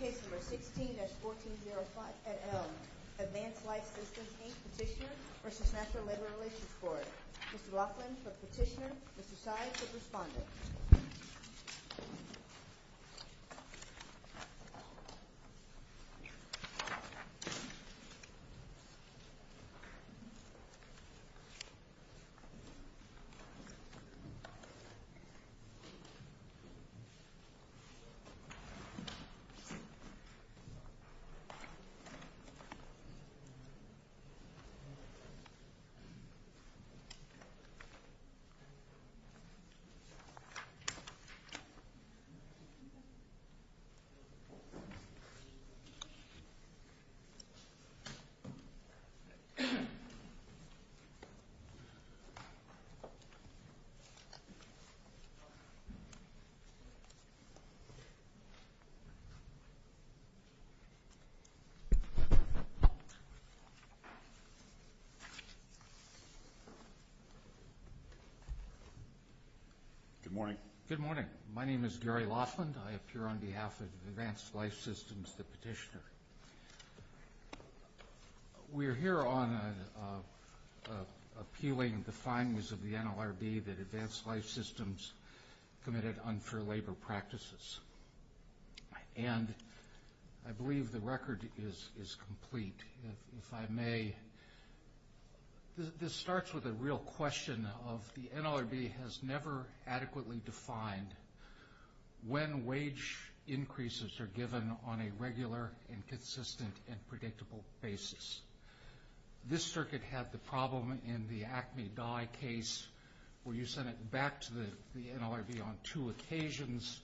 Case number 16-1405, Advanced Life Systems, Inc. Petitioner v. National Labor Relations Board. Mr. Laughlin for petitioner, Mr. Tsai for respondent. Mr. Laughlin. Good morning. My name is Gary Laughlin. I appear on behalf of Advanced Life Systems, the petitioner. We are here on appealing the findings of the NLRB that Advanced Life Systems committed unfair labor practices. And I believe the record is complete. If I may, this starts with a real question of the NLRB has never adequately defined when wage increases are given on a regular and consistent and predictable basis. This circuit had the problem in the NLRB on two occasions.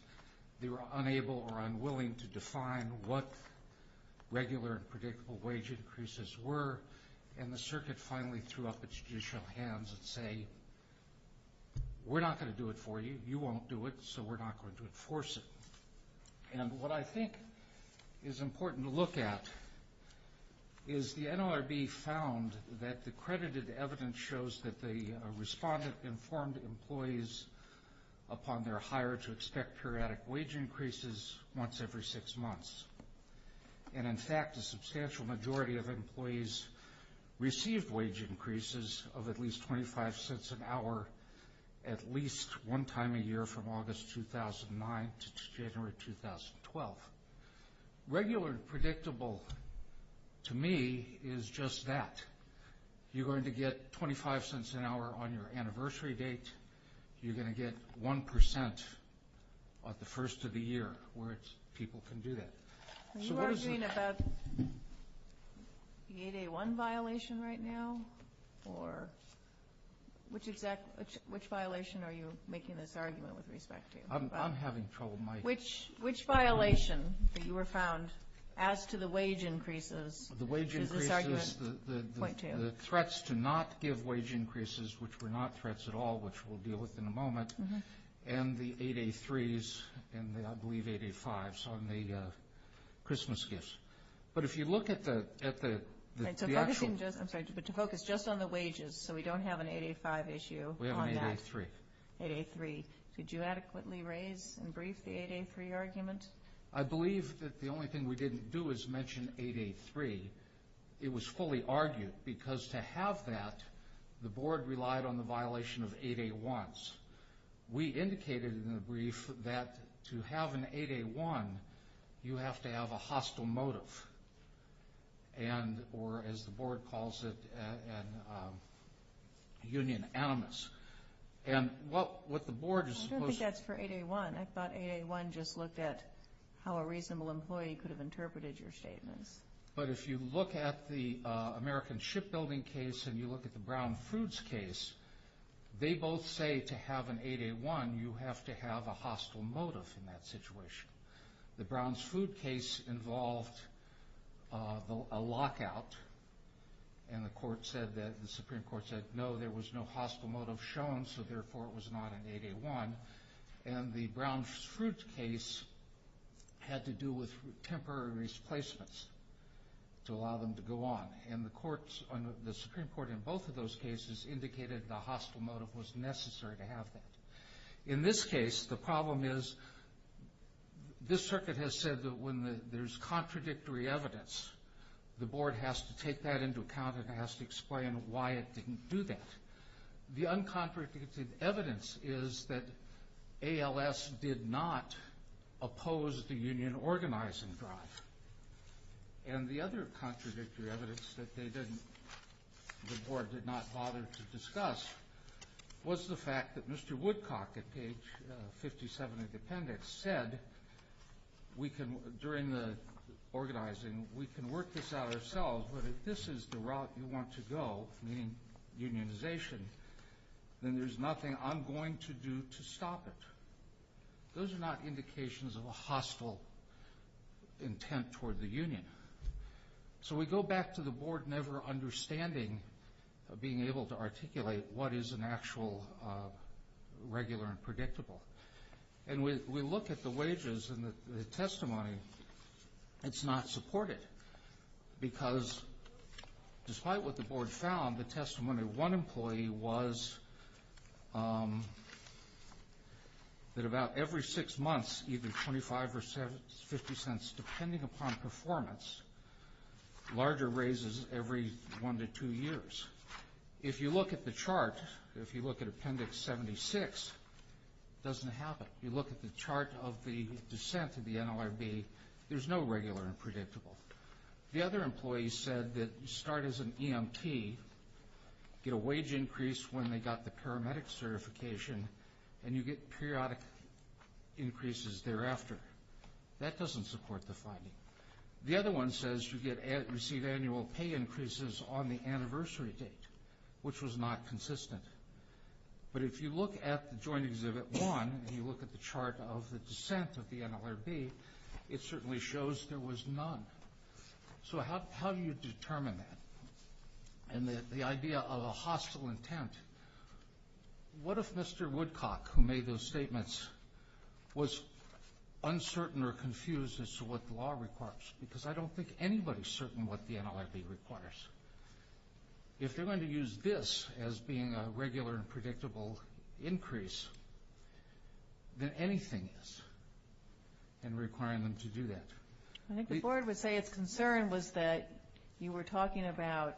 They were unable or unwilling to define what regular and predictable wage increases were, and the circuit finally threw up its judicial hands and said, we're not going to do it for you. You won't do it, so we're not going to enforce it. And what I think is important to look at is the NLRB found that the credited evidence shows that the respondent informed employees upon their hire to expect periodic wage increases once every six months. And in fact, a substantial majority of employees received wage increases of at least 25 cents an hour at least one time a year from August 2009 to January 2012. Regular and predictable, to me, is just that. You're going to get 25 cents an hour on your anniversary date. You're going to get 1% the first of the year where people can do that. Are you arguing about the 8A1 violation right now? Or which violation are you making this As to the wage increases, the wage increases, the threats to not give wage increases, which were not threats at all, which we'll deal with in a moment, and the 8A3s and the I believe 8A5s on the Christmas gifts. But if you look at the actual I'm sorry, but to focus just on the wages so we don't have an 8A5 issue We have an 8A3. 8A3. Could you adequately raise and brief the 8A3 argument? I believe that the only thing we didn't do is mention 8A3. It was fully argued. Because to have that, the board relied on the violation of 8A1s. We indicated in the brief that to have an 8A1, you have to have a hostile motive. And, or as the board calls it, a union animus. And what the board is supposed to I think that's for 8A1. I thought 8A1 just looked at how a reasonable employee could have interpreted your statements. But if you look at the American Shipbuilding case, and you look at the Brown Foods case, they both say to have an 8A1, you have to have a hostile motive in that situation. The Browns Food case involved a lockout, and the Supreme Court said no, there was no hostile motive shown, so therefore it was not an 8A1. And the Browns Fruit case had to do with temporary replacements to allow them to go on. And the Supreme Court in both of those cases indicated the hostile motive was necessary to have that. In this case, the problem is, this circuit has said that when there's contradictory evidence, the board has to take that into account and has to explain why it didn't do that. The uncontradicted evidence is that ALS did not oppose the union organizing drive. And the other contradictory evidence that the board did not bother to discuss was the fact that Mr. Woodcock at page 57 of the appendix said, during the organizing, we can work this out ourselves, but if this is the route you want to go, meaning unionization, then there's nothing I'm going to do to stop it. Those are not indications of a hostile intent toward the union. So we go back to the board never understanding of being able to articulate what is an actual regular and predictable. And we look at the wages and the testimony. It's not supported because, despite what the board found, the testimony of one employee was that about every six months, even $0.25 or $0.50, depending upon performance, larger raises every one to two years. If you look at the chart, if you look at appendix 76, it doesn't happen. You look at the chart of the descent of the NLRB, there's no regular and predictable. The other employee said that you start as an EMT, get a wage increase when they got the paramedic certification, and you get periodic increases thereafter. That doesn't support the finding. The other one says you receive annual pay increases on the anniversary date, which was not consistent. But if you look at the Joint Exhibit 1 and you look at the chart of the descent of the NLRB, it certainly shows there was none. So how do you determine that? And the idea of a hostile intent, what if Mr. Woodcock, who made those statements, was uncertain or confused as to what the law requires? Because I don't think anybody's certain what the NLRB requires. If they're going to use this as being a regular and predictable increase, then anything is in requiring them to do that. I think the board would say its concern was that you were talking about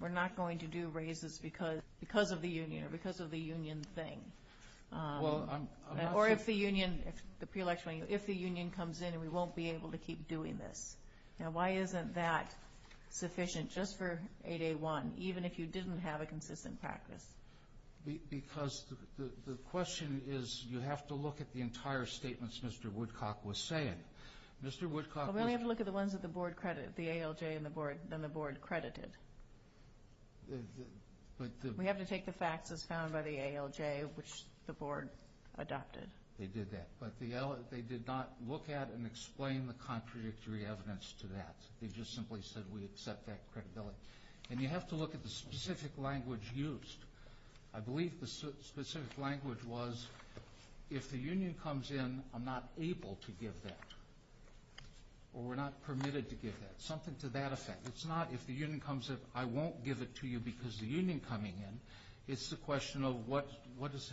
we're not going to do raises because of the union or because of the union thing. Or if the union comes in and we won't be able to keep doing this. Now, why isn't that sufficient just for 8A1, even if you didn't have a consistent practice? Because the question is you have to look at the entire statements Mr. Woodcock was saying. Well, we only have to look at the ones that the ALJ and the board credited. We have to take the facts as found by the ALJ, which the board adopted. They did that. But they did not look at and explain the contradictory evidence to that. They just simply said we accept that credibility. And you have to look at the specific language used. I believe the specific language was if the union comes in, I'm not able to give that. Or we're not permitted to give that. Something to that effect. It's not if the union comes in, I won't give it to you because the union coming in. It's the question of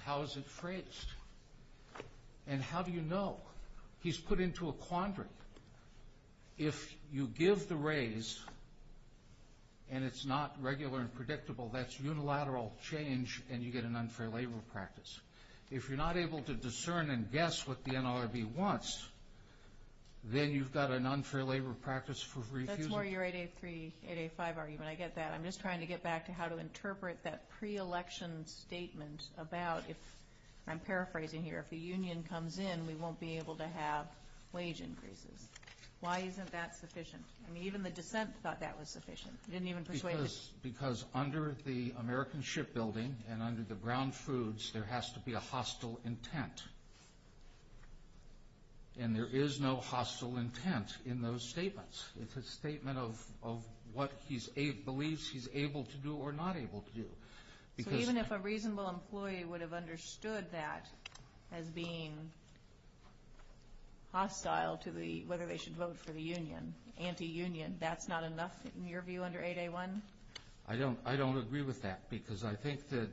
how is it phrased. And how do you know? He's put into a quandary. If you give the raise and it's not regular and predictable, that's unilateral change and you get an unfair labor practice. If you're not able to discern and guess what the NLRB wants, then you've got an unfair labor practice for refusing. One more year 8A3, 8A5 argument. I get that. I'm just trying to get back to how to interpret that pre-election statement about if, I'm paraphrasing here, if the union comes in, we won't be able to have wage increases. Why isn't that sufficient? I mean, even the dissent thought that was sufficient. It didn't even persuade them. Because under the American Shipbuilding and under the Brown Foods, there has to be a hostile intent. And there is no hostile intent in those statements. It's a statement of what he believes he's able to do or not able to do. So even if a reasonable employee would have understood that as being hostile to the whether they should vote for the union, anti-union, that's not enough in your view under 8A1? I don't agree with that because I think that.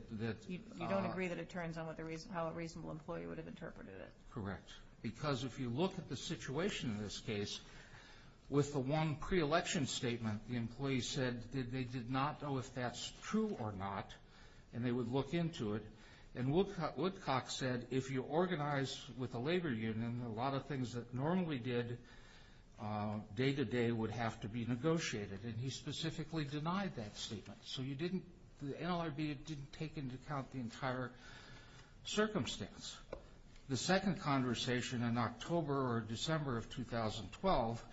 You don't agree that it turns on how a reasonable employee would have interpreted it. Correct. Because if you look at the situation in this case, with the one pre-election statement, the employee said that they did not know if that's true or not, and they would look into it. And Woodcock said if you organize with a labor union, a lot of things that normally did day-to-day would have to be negotiated. And he specifically denied that statement. So the NLRB didn't take into account the entire circumstance. The second conversation in October or December of 2012,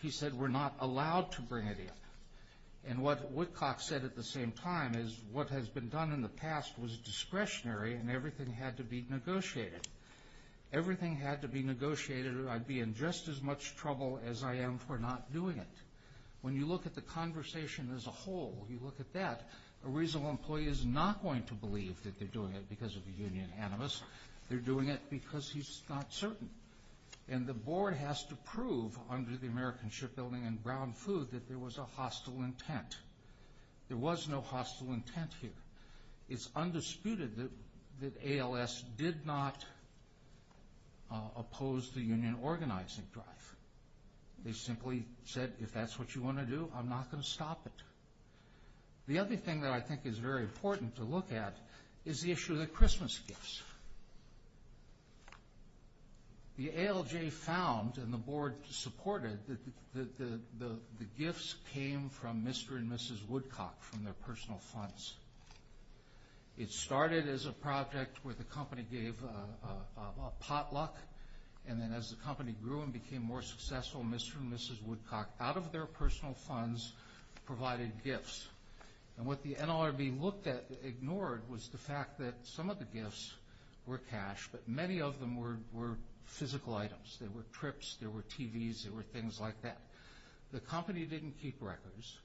he said we're not allowed to bring it in. And what Woodcock said at the same time is what has been done in the past was discretionary and everything had to be negotiated. Everything had to be negotiated or I'd be in just as much trouble as I am for not doing it. When you look at the conversation as a whole, you look at that, a reasonable employee is not going to believe that they're doing it because of a union animus. They're doing it because he's not certain. And the board has to prove under the American Shipbuilding and Brown Food that there was a hostile intent. There was no hostile intent here. It's undisputed that ALS did not oppose the union organizing drive. They simply said if that's what you want to do, I'm not going to stop it. The other thing that I think is very important to look at is the issue of the Christmas gifts. The ALJ found and the board supported that the gifts came from Mr. and Mrs. Woodcock from their personal funds. It started as a project where the company gave a potluck and then as the company grew and became more successful, Mr. and Mrs. Woodcock, out of their personal funds, provided gifts. And what the NLRB looked at, ignored, was the fact that some of the gifts were cash, but many of them were physical items. They were trips. They were TVs. They were things like that. The company didn't keep records.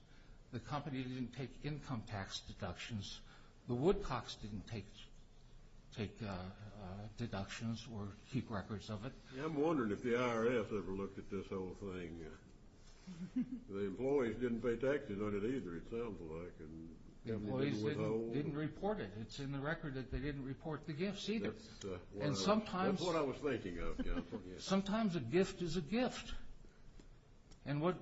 The company didn't take income tax deductions. The Woodcocks didn't take deductions or keep records of it. I'm wondering if the IRS ever looked at this whole thing. The employees didn't pay taxes on it either, it sounds like. The employees didn't report it. It's in the record that they didn't report the gifts either. That's what I was thinking of. Sometimes a gift is a gift. And the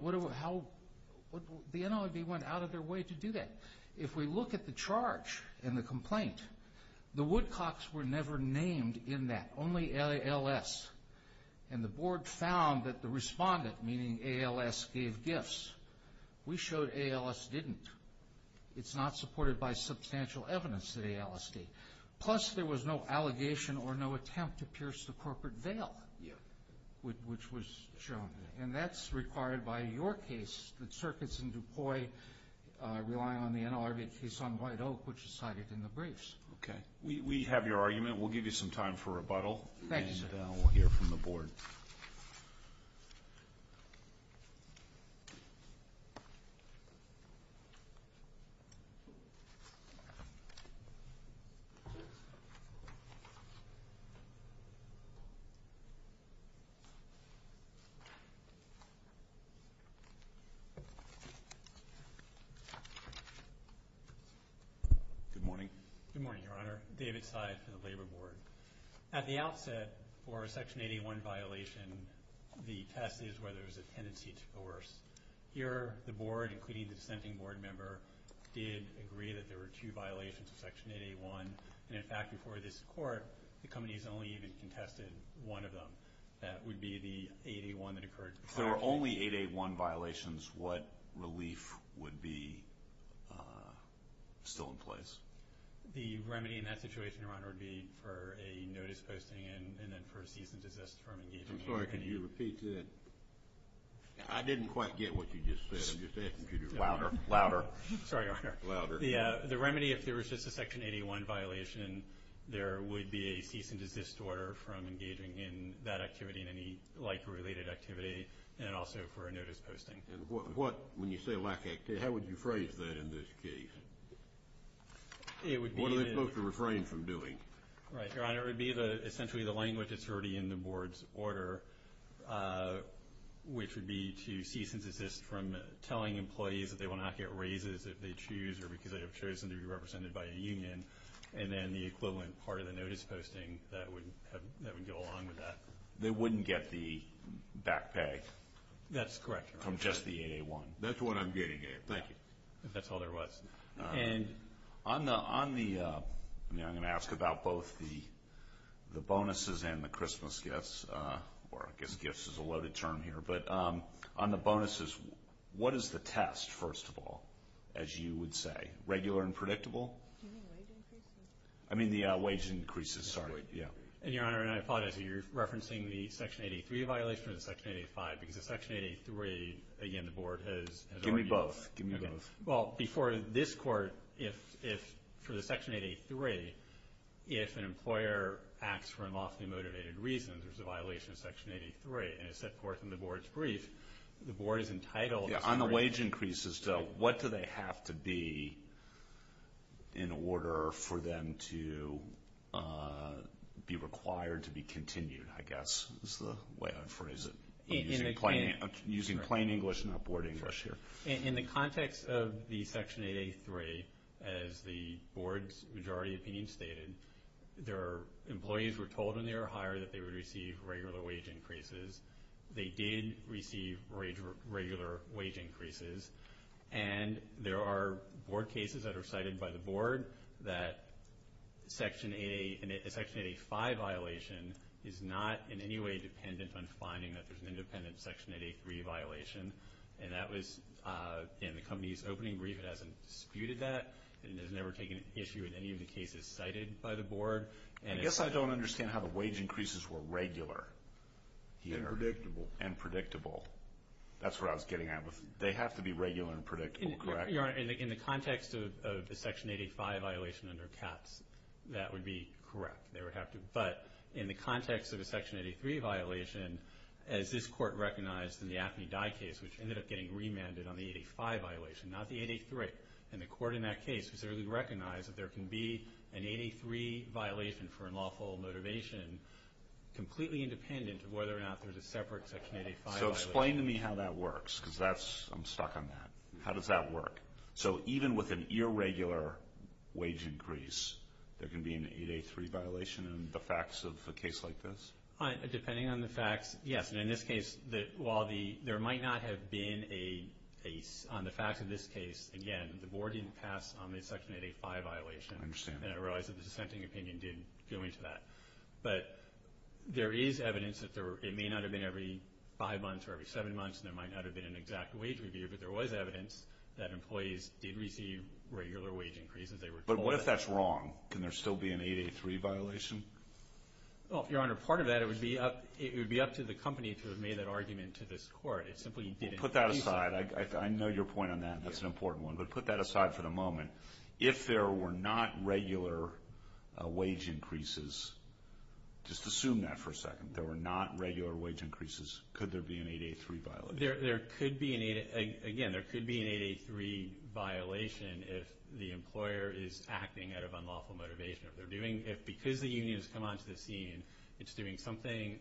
NLRB went out of their way to do that. If we look at the charge and the complaint, the Woodcocks were never named in that, only ALS. And the board found that the respondent, meaning ALS, gave gifts. We showed ALS didn't. It's not supported by substantial evidence that ALS did. Plus, there was no allegation or no attempt to pierce the corporate veil, which was shown. And that's required by your case, the circuits in DuPois relying on the NLRB case on White Oak, which is cited in the briefs. Okay. We have your argument. We'll give you some time for rebuttal. Thank you, sir. And we'll hear from the board. Good morning. Good morning, Your Honor. David Seid for the Labor Board. At the outset, for a Section 881 violation, the test is whether there's a tendency to coerce. Here, the board, including the dissenting board member, did agree that there were two violations of Section 881. And, in fact, before this court, the companies only even contested one of them. That would be the 881 that occurred. If there were only 881 violations, what relief would be still in place? The remedy in that situation, Your Honor, would be for a notice posting and then for a cease and desist from engaging. I'm sorry. Can you repeat that? I didn't quite get what you just said. I'm just asking you to do it louder. Louder. Sorry, Your Honor. Louder. The remedy, if there was just a Section 881 violation, there would be a cease and desist order from engaging in that activity and any like-related activity, and also for a notice posting. And what, when you say like activity, how would you phrase that in this case? What are they supposed to refrain from doing? Right, Your Honor. It would be essentially the language that's already in the board's order, which would be to cease and desist from telling employees that they will not get raises if they choose or because they have chosen to be represented by a union, and then the equivalent part of the notice posting that would go along with that. They wouldn't get the back pay. That's correct. From just the 881. That's what I'm getting at. Thank you. If that's all there was. And on the, I'm going to ask about both the bonuses and the Christmas gifts, or I guess gifts is a loaded term here, but on the bonuses, what is the test, first of all, as you would say? Regular and predictable? Do you mean wage increases? I mean the wage increases, sorry. And, Your Honor, and I apologize. Are you referencing the Section 83 violation or the Section 85? Because the Section 83, again, the board has argued. Give me both. Well, before this court, for the Section 83, if an employer acts for unlawfully motivated reasons, there's a violation of Section 83, and it's set forth in the board's brief. The board is entitled. On the wage increases, though, what do they have to be in order for them to be required to be continued, I guess, is the way I'd phrase it. I'm using plain English, not board English here. In the context of the Section 83, as the board's majority opinion stated, their employees were told when they were hired that they would receive regular wage increases. They did receive regular wage increases, and there are board cases that are cited by the board that a Section 85 violation is not in any way dependent on finding that there's an independent Section 83 violation. And that was in the company's opening brief. It hasn't disputed that, and it has never taken issue in any of the cases cited by the board. I guess I don't understand how the wage increases were regular. And predictable. And predictable. That's what I was getting at. They have to be regular and predictable, correct? Your Honor, in the context of the Section 85 violation under CAPS, that would be correct. They would have to. But in the context of a Section 83 violation, as this Court recognized in the AFNI die case, which ended up getting remanded on the 85 violation, not the 83, and the Court in that case specifically recognized that there can be an 83 violation for unlawful motivation completely independent of whether or not there's a separate Section 85 violation. So explain to me how that works, because I'm stuck on that. How does that work? So even with an irregular wage increase, there can be an 83 violation in the facts of a case like this? Depending on the facts, yes. And in this case, while there might not have been on the facts of this case, again, the board didn't pass on the Section 85 violation. I understand. And I realize that the dissenting opinion didn't go into that. But there is evidence that it may not have been every five months or every seven months, and there might not have been an exact wage review, but there was evidence that employees did receive regular wage increases. But what if that's wrong? Can there still be an 83 violation? Well, Your Honor, part of that, it would be up to the company to have made that argument to this Court. It simply didn't. Put that aside. I know your point on that. That's an important one. But put that aside for the moment. If there were not regular wage increases, just assume that for a second. If there were not regular wage increases, could there be an 883 violation? There could be an 883 violation if the employer is acting out of unlawful motivation. If because the union has come onto the scene, it's doing something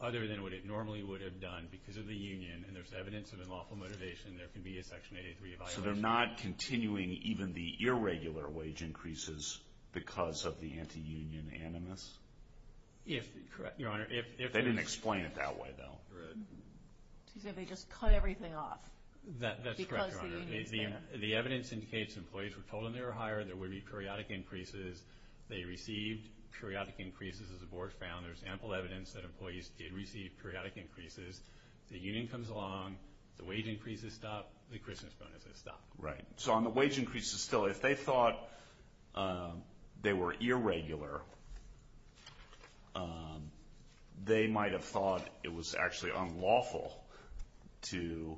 other than what it normally would have done because of the union, and there's evidence of unlawful motivation, there could be a Section 883 violation. So they're not continuing even the irregular wage increases because of the anti-union animus? Correct, Your Honor. They didn't explain it that way, though. So they just cut everything off because the union is there. That's correct, Your Honor. The evidence indicates employees were told when they were hired there would be periodic increases. They received periodic increases as the Board found. There's ample evidence that employees did receive periodic increases. The union comes along, the wage increases stop, the Christmas bonuses stop. Right. So on the wage increases still, if they thought they were irregular, they might have thought it was actually unlawful to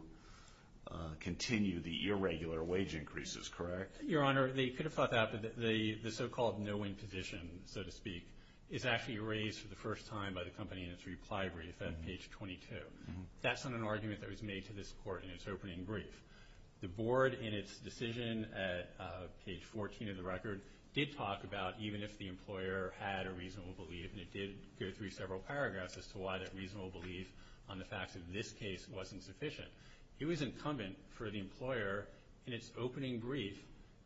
continue the irregular wage increases, correct? Your Honor, they could have thought that, but the so-called no-win position, so to speak, is actually raised for the first time by the company in its reply brief at page 22. That's an argument that was made to this Court in its opening brief. The Board, in its decision at page 14 of the record, did talk about even if the employer had a reasonable belief, and it did go through several paragraphs as to why that reasonable belief on the fact that this case wasn't sufficient. It was incumbent for the employer, in its opening brief,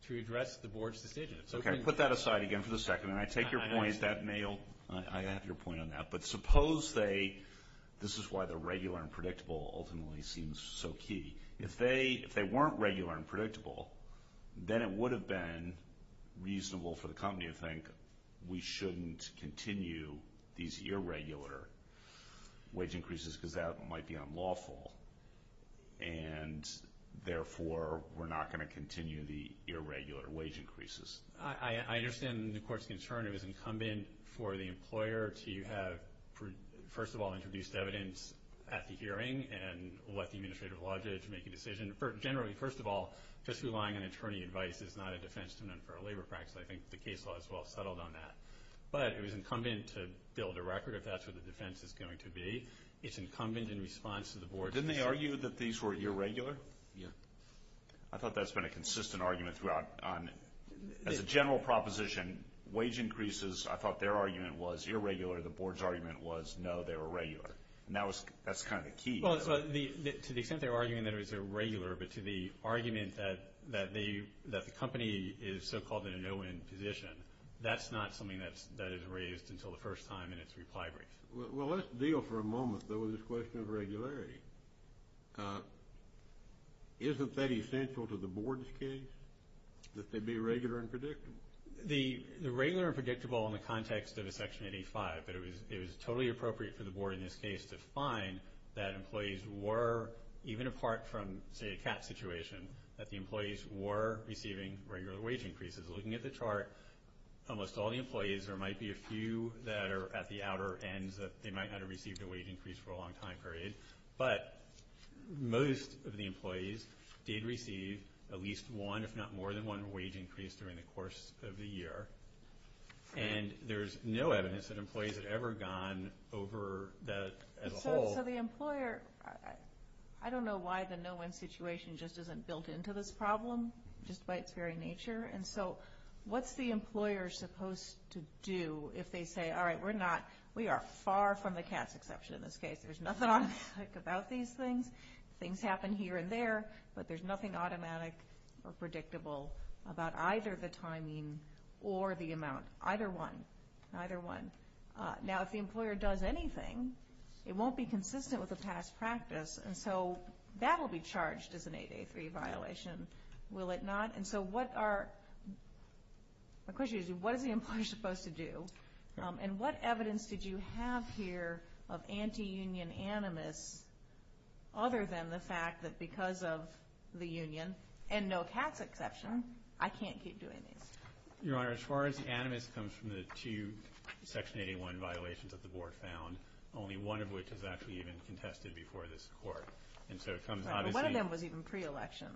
to address the Board's decision. Okay. Put that aside again for a second. I take your point. I have your point on that. But suppose they – this is why the regular and predictable ultimately seems so key. If they weren't regular and predictable, then it would have been reasonable for the company to think we shouldn't continue these irregular wage increases because that might be unlawful, and therefore we're not going to continue the irregular wage increases. I understand the Court's concern. It was incumbent for the employer to have, first of all, introduced evidence at the hearing and let the administrative logic make a decision. Generally, first of all, just relying on attorney advice is not a defense to an unfair labor practice. I think the case law has well settled on that. But it was incumbent to build a record if that's what the defense is going to be. It's incumbent in response to the Board's decision. Didn't they argue that these were irregular? Yeah. I thought that's been a consistent argument throughout. As a general proposition, wage increases, I thought their argument was irregular. The Board's argument was, no, they were regular. And that's kind of the key. Well, to the extent they were arguing that it was irregular, but to the argument that the company is so-called in a no-win position, that's not something that is raised until the first time in its reply brief. Well, let's deal for a moment, though, with this question of regularity. Isn't that essential to the Board's case, that they be regular and predictable? The regular and predictable in the context of a Section 85, that it was totally appropriate for the Board in this case to find that employees were, even apart from, say, a cap situation, that the employees were receiving regular wage increases. Looking at the chart, almost all the employees, there might be a few that are at the outer ends that they might not have received a wage increase for a long time period. But most of the employees did receive at least one, if not more than one, wage increase during the course of the year. And there's no evidence that employees had ever gone over that as a whole. So the employer, I don't know why the no-win situation just isn't built into this problem, just by its very nature. And so what's the employer supposed to do if they say, all right, we're not, we are far from the cat's exception in this case. There's nothing automatic about these things. Things happen here and there, but there's nothing automatic or predictable about either the timing or the amount. Either one. Either one. Now, if the employer does anything, it won't be consistent with the past practice, and so that will be charged as an 8A3 violation, will it not? And so what are, the question is, what is the employer supposed to do? And what evidence did you have here of anti-union animus other than the fact that because of the union, and no cat's exception, I can't keep doing this? Your Honor, as far as animus comes from the two Section 8A1 violations that the Board found, only one of which is actually even contested before this Court. And so it comes obviously. Right, but one of them was even pre-election.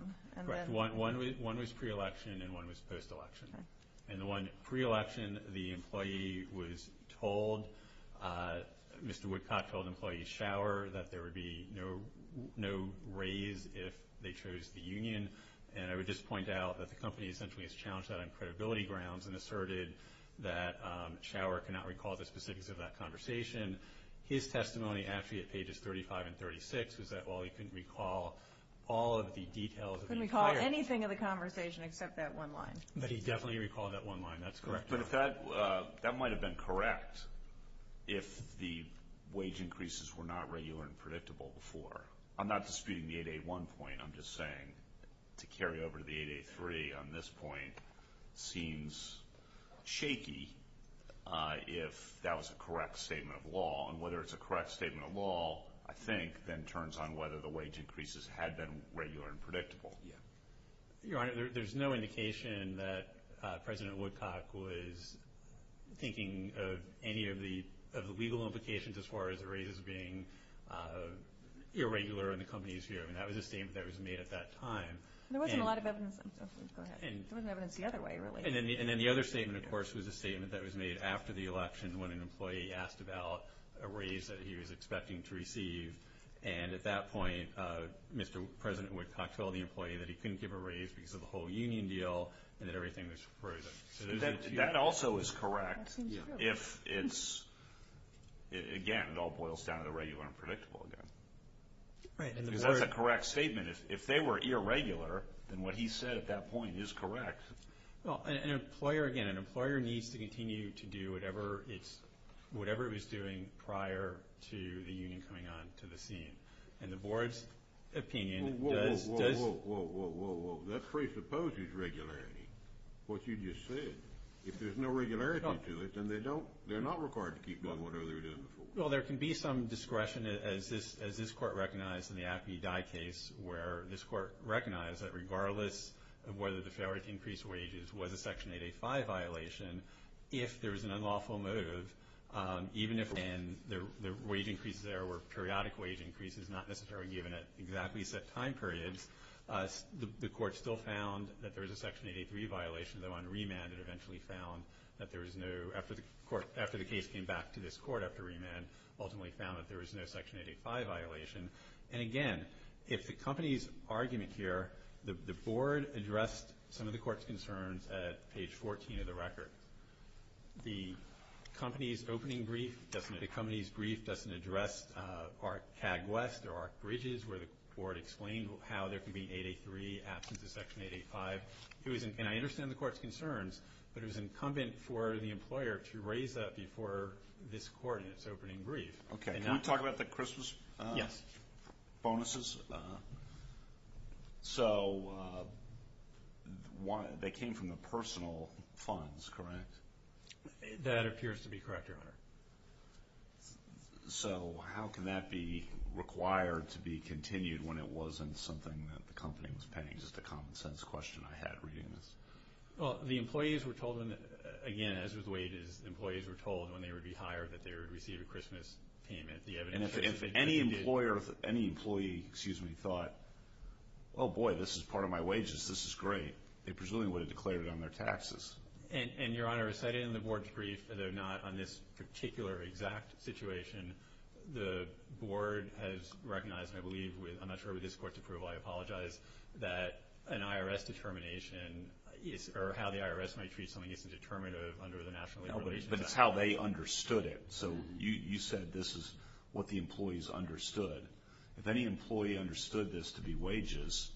Correct. One was pre-election and one was post-election. Okay. And the one pre-election, the employee was told, Mr. Woodcock told employee Schauer, that there would be no raise if they chose the union. And I would just point out that the company essentially has challenged that on credibility grounds and asserted that Schauer cannot recall the specifics of that conversation. His testimony actually at pages 35 and 36 was that, well, he couldn't recall all of the details. Couldn't recall anything of the conversation except that one line. But he definitely recalled that one line. That's correct. But that might have been correct if the wage increases were not regular and predictable before. I'm not disputing the 8A1 point. I'm just saying to carry over to the 8A3 on this point seems shaky if that was a correct statement of law. And whether it's a correct statement of law, I think, then turns on whether the wage increases had been regular and predictable. Yeah. Your Honor, there's no indication that President Woodcock was thinking of any of the legal implications as far as the raises being irregular in the company's view. And that was a statement that was made at that time. There wasn't a lot of evidence. Go ahead. There wasn't evidence the other way, really. And then the other statement, of course, was a statement that was made after the election when an employee asked about a raise that he was expecting to receive. And at that point, Mr. President Woodcock told the employee that he couldn't give a raise because of the whole union deal and that everything was frozen. That also is correct if it's, again, it all boils down to the regular and predictable again. Right. Because that's a correct statement. If they were irregular, then what he said at that point is correct. Well, an employer, again, an employer needs to continue to do whatever it's, whatever it was doing prior to the union coming on to the scene. And the Board's opinion does... Whoa, whoa, whoa, whoa, whoa, whoa, whoa, whoa. That presupposes regularity, what you just said. If there's no regularity to it, then they don't, they're not required to keep doing whatever they were doing before. Well, there can be some discretion, as this Court recognized in the Appy Dye case, where this Court recognized that regardless of whether the failure to increase wages was a Section 885 violation, if there was an unlawful motive, even if then the wage increases there were periodic wage increases, not necessarily given at exactly set time periods, the Court still found that there was a Section 883 violation, though on remand it eventually found that there was no, after the case came back to this Court after remand, ultimately found that there was no Section 885 violation. And, again, if the company's argument here, the Board addressed some of the Court's concerns at page 14 of the record. The company's opening brief doesn't, the company's brief doesn't address Arc Cagwest or Arc Bridges, where the Board explained how there can be an 883 absence of Section 885. It was, and I understand the Court's concerns, but it was incumbent for the employer to raise that before this Court in its opening brief. Okay. Can we talk about the Christmas? Yes. Bonuses. So they came from the personal funds, correct? That appears to be correct, Your Honor. So how can that be required to be continued when it wasn't something that the company was paying? It's just a common sense question I had reading this. Well, the employees were told, again, as with wages, employees were told when they would be hired that they would receive a Christmas payment. And if any employer, any employee, excuse me, thought, oh, boy, this is part of my wages, this is great, they presumably would have declared it on their taxes. And, Your Honor, as cited in the Board's brief, although not on this particular exact situation, the Board has recognized, and I believe, I'm not sure with this Court's approval, I apologize, that an IRS determination or how the IRS might treat something isn't determinative under the National Labor Relations Act. No, but it's how they understood it. So you said this is what the employees understood. If any employee understood this to be wages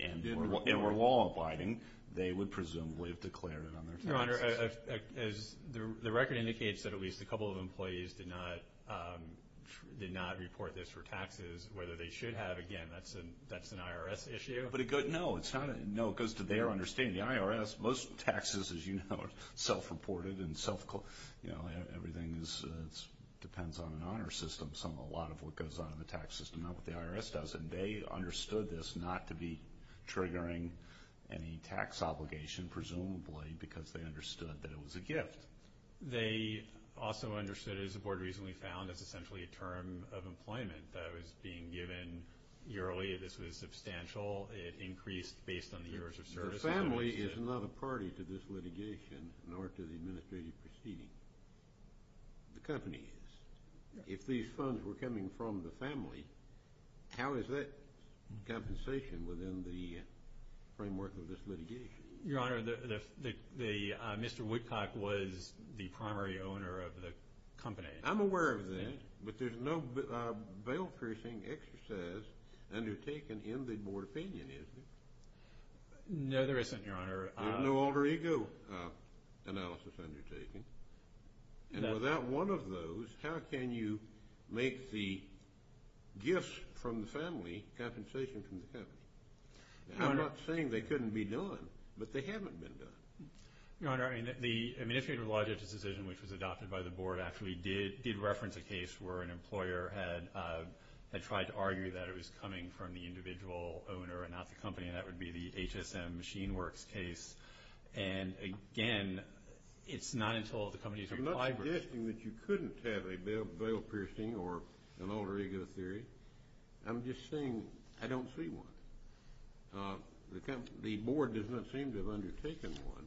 and were law-abiding, they would presumably have declared it on their taxes. Your Honor, the record indicates that at least a couple of employees did not report this for taxes. Whether they should have, again, that's an IRS issue. No, it goes to their understanding. The IRS, most taxes, as you know, are self-reported and everything depends on an honor system. A lot of what goes on in the tax system, not what the IRS does. And they understood this not to be triggering any tax obligation, presumably, because they understood that it was a gift. They also understood it, as the Board recently found, as essentially a term of employment that was being given yearly. This was substantial. It increased based on the years of service. The family is not a party to this litigation, nor to the administrative proceeding. The company is. If these funds were coming from the family, how is that compensation within the framework of this litigation? Your Honor, Mr. Woodcock was the primary owner of the company. I'm aware of that, but there's no bail-piercing exercise undertaken in the Board opinion, is there? No, there isn't, Your Honor. There's no alter ego analysis undertaken. And without one of those, how can you make the gifts from the family compensation from the company? I'm not saying they couldn't be done, but they haven't been done. Your Honor, I mean, if you had relied on this decision, which was adopted by the Board, actually did reference a case where an employer had tried to argue that it was coming from the individual owner and not the company, and that would be the HSM Machine Works case. And, again, it's not until the company has replied. I'm not suggesting that you couldn't have a bail-piercing or an alter ego theory. I'm just saying I don't see one. The Board does not seem to have undertaken one,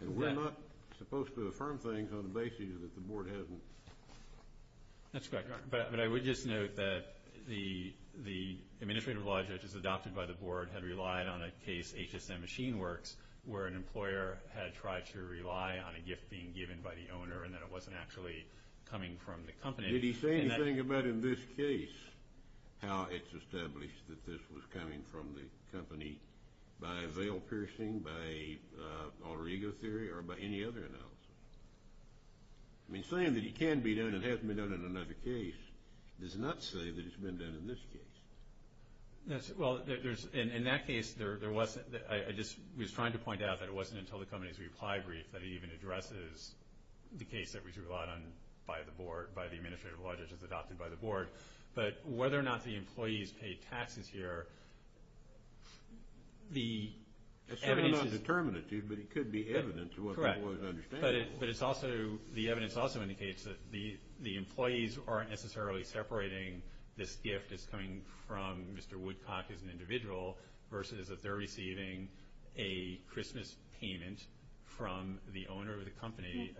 and we're not supposed to affirm things on the basis that the Board hasn't. That's correct, Your Honor. But I would just note that the administrative law judges adopted by the Board had relied on a case, HSM Machine Works, where an employer had tried to rely on a gift being given by the owner and that it wasn't actually coming from the company. Did he say anything about in this case how it's established that this was coming from the company by bail-piercing, by alter ego theory, or by any other analysis? I mean, saying that it can be done and hasn't been done in another case does not say that it's been done in this case. Well, in that case, I just was trying to point out that it wasn't until the company's reply brief that he even addresses the case that was relied on by the Board, by the administrative law judges adopted by the Board. But whether or not the employees paid taxes here, the evidence is— But it's also—the evidence also indicates that the employees aren't necessarily separating this gift as coming from Mr. Woodcock as an individual versus that they're receiving a Christmas payment from the owner of the company.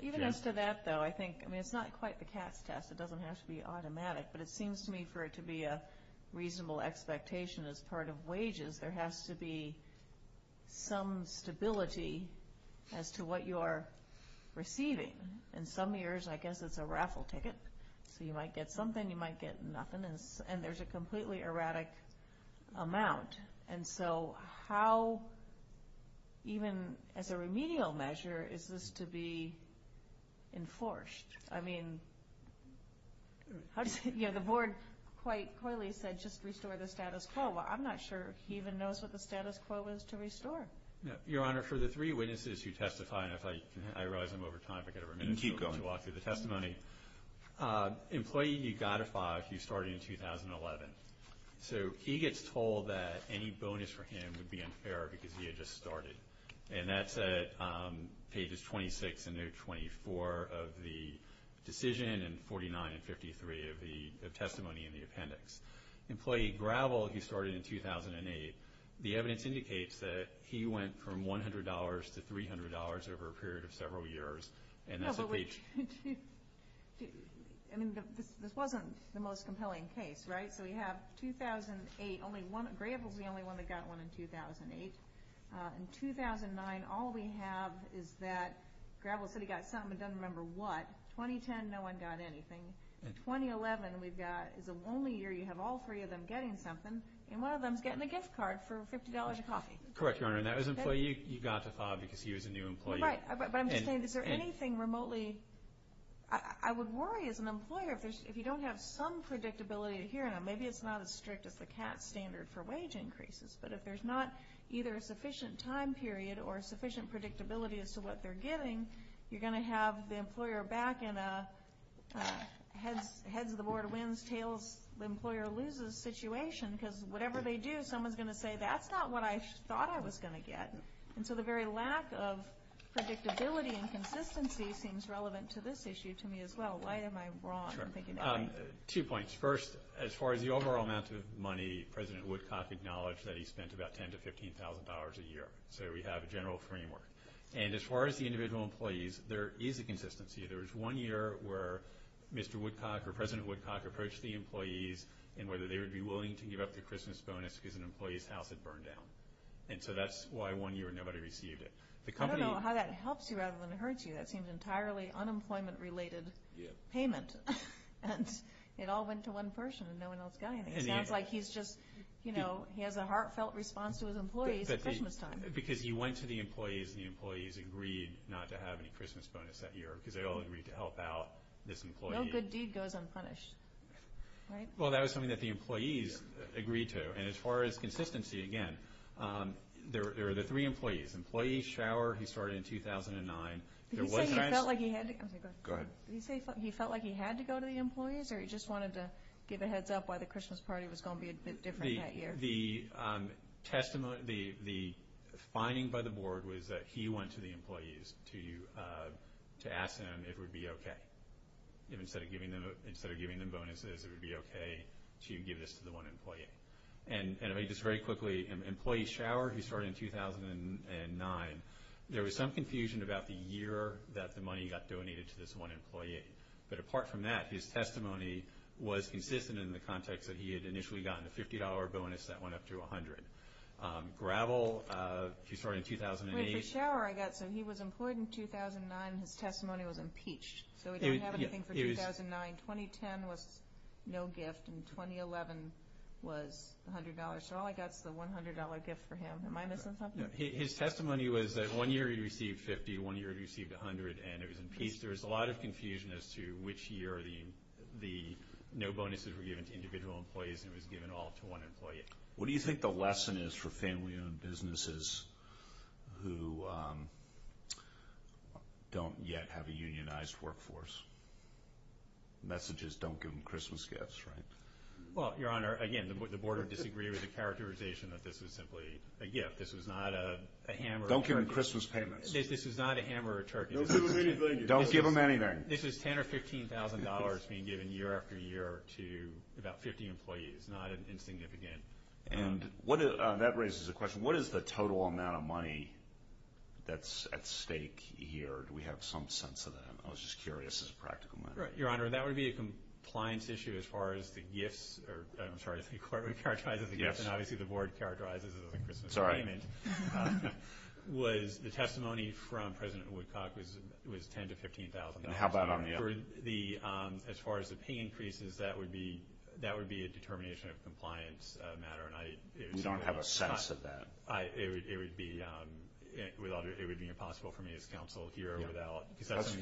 Even as to that, though, I think, I mean, it's not quite the cat's test. It doesn't have to be automatic. But it seems to me for it to be a reasonable expectation as part of wages, there has to be some stability as to what you are receiving. In some years, I guess it's a raffle ticket. So you might get something, you might get nothing, and there's a completely erratic amount. And so how, even as a remedial measure, is this to be enforced? I mean, the Board quite coyly said just restore the status quo. Well, I'm not sure he even knows what the status quo is to restore. Your Honor, for the three witnesses who testify, and I realize I'm over time, but I've got to remind you to walk through the testimony. You can keep going. Employee Ugotify, he started in 2011. So he gets told that any bonus for him would be unfair because he had just started. And that's at pages 26 and 24 of the decision and 49 and 53 of testimony in the appendix. Employee Gravel, he started in 2008. The evidence indicates that he went from $100 to $300 over a period of several years. I mean, this wasn't the most compelling case, right? So we have 2008, Gravel's the only one that got one in 2008. In 2009, all we have is that Gravel said he got something but doesn't remember what. 2010, no one got anything. In 2011, we've got is the only year you have all three of them getting something, and one of them is getting a gift card for $50 a coffee. Correct, Your Honor. And that was Employee Ugotify because he was a new employee. Right, but I'm just saying, is there anything remotely? I would worry as an employer if you don't have some predictability to hearing them. Maybe it's not as strict as the CAT standard for wage increases, but if there's not either a sufficient time period or sufficient predictability as to what they're getting, you're going to have the employer back in a heads-of-the-board-wins-tails-the-employer-loses situation because whatever they do, someone's going to say, that's not what I thought I was going to get. And so the very lack of predictability and consistency seems relevant to this issue to me as well. Why am I wrong? Two points. First, as far as the overall amount of money, President Woodcock acknowledged that he spent about $10,000 to $15,000 a year. So we have a general framework. And as far as the individual employees, there is a consistency. There was one year where Mr. Woodcock or President Woodcock approached the employees and whether they would be willing to give up their Christmas bonus because an employee's house had burned down. And so that's why one year nobody received it. I don't know how that helps you rather than hurts you. That seems entirely unemployment-related payment. And it all went to one person and no one else got anything. It sounds like he's just, you know, he has a heartfelt response to his employees at Christmas time. Because he went to the employees and the employees agreed not to have any Christmas bonus that year because they all agreed to help out this employee. No good deed goes unpunished, right? Well, that was something that the employees agreed to. And as far as consistency, again, there are the three employees, employees, shower. He started in 2009. Did he say he felt like he had to go to the employees or he just wanted to give a heads up why the Christmas party was going to be a bit different that year? The testimony, the finding by the board was that he went to the employees to ask them if it would be okay. Instead of giving them bonuses, it would be okay to give this to the one employee. And just very quickly, employee shower, he started in 2009. There was some confusion about the year that the money got donated to this one employee. But apart from that, his testimony was consistent in the context that he had initially gotten a $50 bonus that went up to $100. Gravel, he started in 2008. Wait, for shower I got, so he was employed in 2009. His testimony was impeached. So he didn't have anything for 2009. 2010 was no gift. And 2011 was $100. So all I got is the $100 gift for him. Am I missing something? No, his testimony was that one year he received $50, one year he received $100, and it was impeached. There was a lot of confusion as to which year the no bonuses were given to individual employees and it was given all to one employee. What do you think the lesson is for family-owned businesses who don't yet have a unionized workforce? The message is don't give them Christmas gifts, right? Well, Your Honor, again, the board would disagree with the characterization that this was simply a gift. This was not a hammer. Don't give them Christmas payments. This is not a hammer or a turkey. Don't give them anything. Don't give them anything. This was $10,000 or $15,000 being given year after year to about 50 employees, not insignificant. And that raises a question. What is the total amount of money that's at stake here? Do we have some sense of that? I was just curious as a practical matter. Your Honor, that would be a compliance issue as far as the gifts. I'm sorry, the court would characterize it as a gift, and obviously the board characterizes it as a Christmas payment. Sorry. The testimony from President Woodcock was $10,000 to $15,000. And how about on the other? As far as the pay increases, that would be a determination of compliance matter. We don't have a sense of that. It would be impossible for me as counsel here.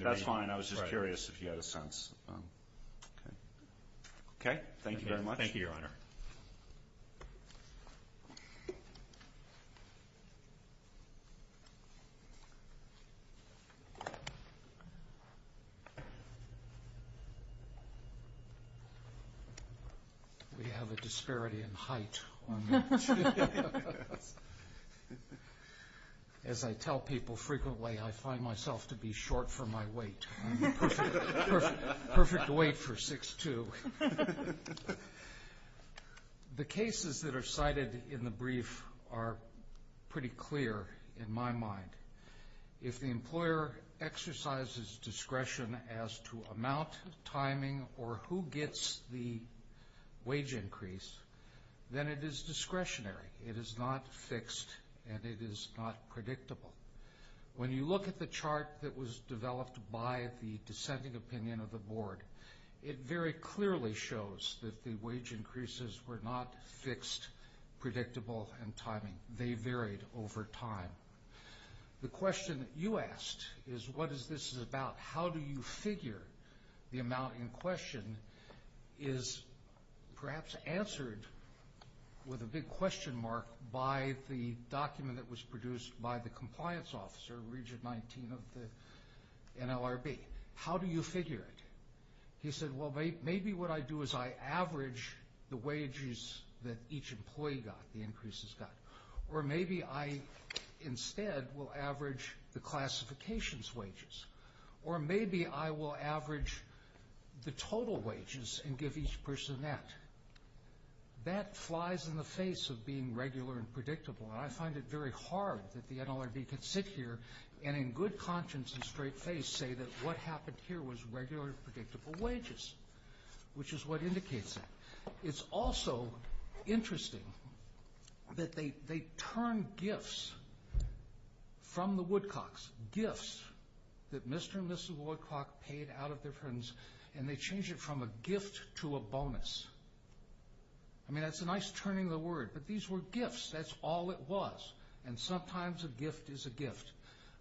That's fine. I was just curious if you had a sense. Okay. Thank you very much. Thank you, Your Honor. Thank you. We have a disparity in height on that. As I tell people frequently, I find myself to be short for my weight. I'm the perfect weight for 6'2". The cases that are cited in the brief are pretty clear in my mind. If the employer exercises discretion as to amount, timing, or who gets the wage increase, then it is discretionary. It is not fixed, and it is not predictable. When you look at the chart that was developed by the dissenting opinion of the board, it very clearly shows that the wage increases were not fixed, predictable, and timing. They varied over time. The question that you asked is, what is this about? How do you figure the amount in question is perhaps answered with a big question mark by the document that was produced by the compliance officer, Regent 19 of the NLRB. How do you figure it? He said, well, maybe what I do is I average the wages that each employee got, the increases got. Or maybe I instead will average the classifications wages. Or maybe I will average the total wages and give each person that. That flies in the face of being regular and predictable, and I find it very hard that the NLRB could sit here and in good conscience and straight face say that what happened here was regular, predictable wages, which is what indicates that. It's also interesting that they turn gifts from the Woodcocks, gifts that Mr. and Mrs. Woodcock paid out of their friends, and they change it from a gift to a bonus. I mean, that's a nice turning of the word, but these were gifts. That's all it was, and sometimes a gift is a gift.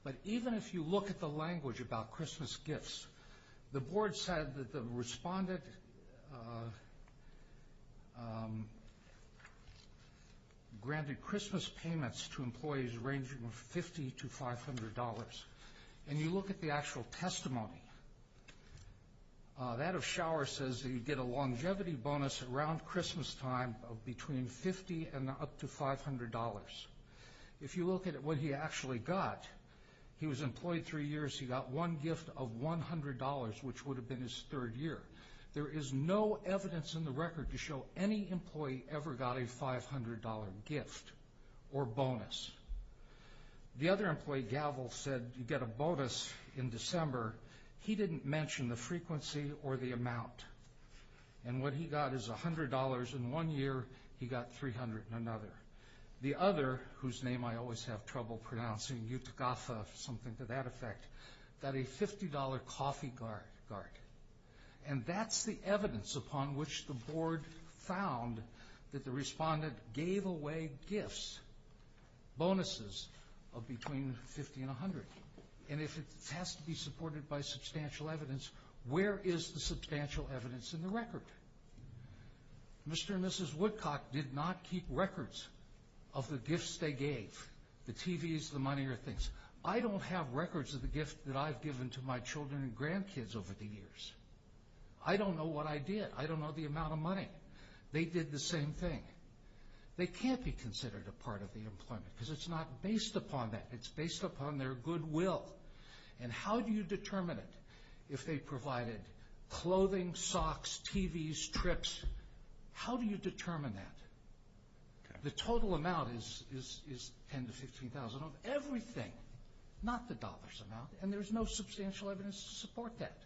But even if you look at the language about Christmas gifts, the board said that the respondent granted Christmas payments to employees ranging from $50 to $500. And you look at the actual testimony. That of Shower says that you get a longevity bonus around Christmastime between $50 and up to $500. If you look at what he actually got, he was employed three years. He got one gift of $100, which would have been his third year. There is no evidence in the record to show any employee ever got a $500 gift or bonus. The other employee, Gavel, said you get a bonus in December. He didn't mention the frequency or the amount, and what he got is $100 in one year. He got $300 in another. The other, whose name I always have trouble pronouncing, Yutagafa, something to that effect, got a $50 coffee cart. And that's the evidence upon which the board found that the respondent gave away gifts, bonuses, of between $50 and $100. And if it has to be supported by substantial evidence, where is the substantial evidence in the record? Mr. and Mrs. Woodcock did not keep records of the gifts they gave, the TVs, the money, or things. I don't have records of the gifts that I've given to my children and grandkids over the years. I don't know what I did. I don't know the amount of money. They did the same thing. They can't be considered a part of the employment because it's not based upon that. It's based upon their goodwill. And how do you determine it? If they provided clothing, socks, TVs, trips, how do you determine that? The total amount is $10,000 to $15,000 of everything, not the dollars amount. And there's no substantial evidence to support that.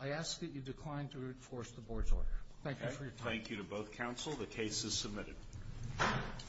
I ask that you decline to enforce the board's order. Thank you for your time. Thank you to both counsel. The case is submitted.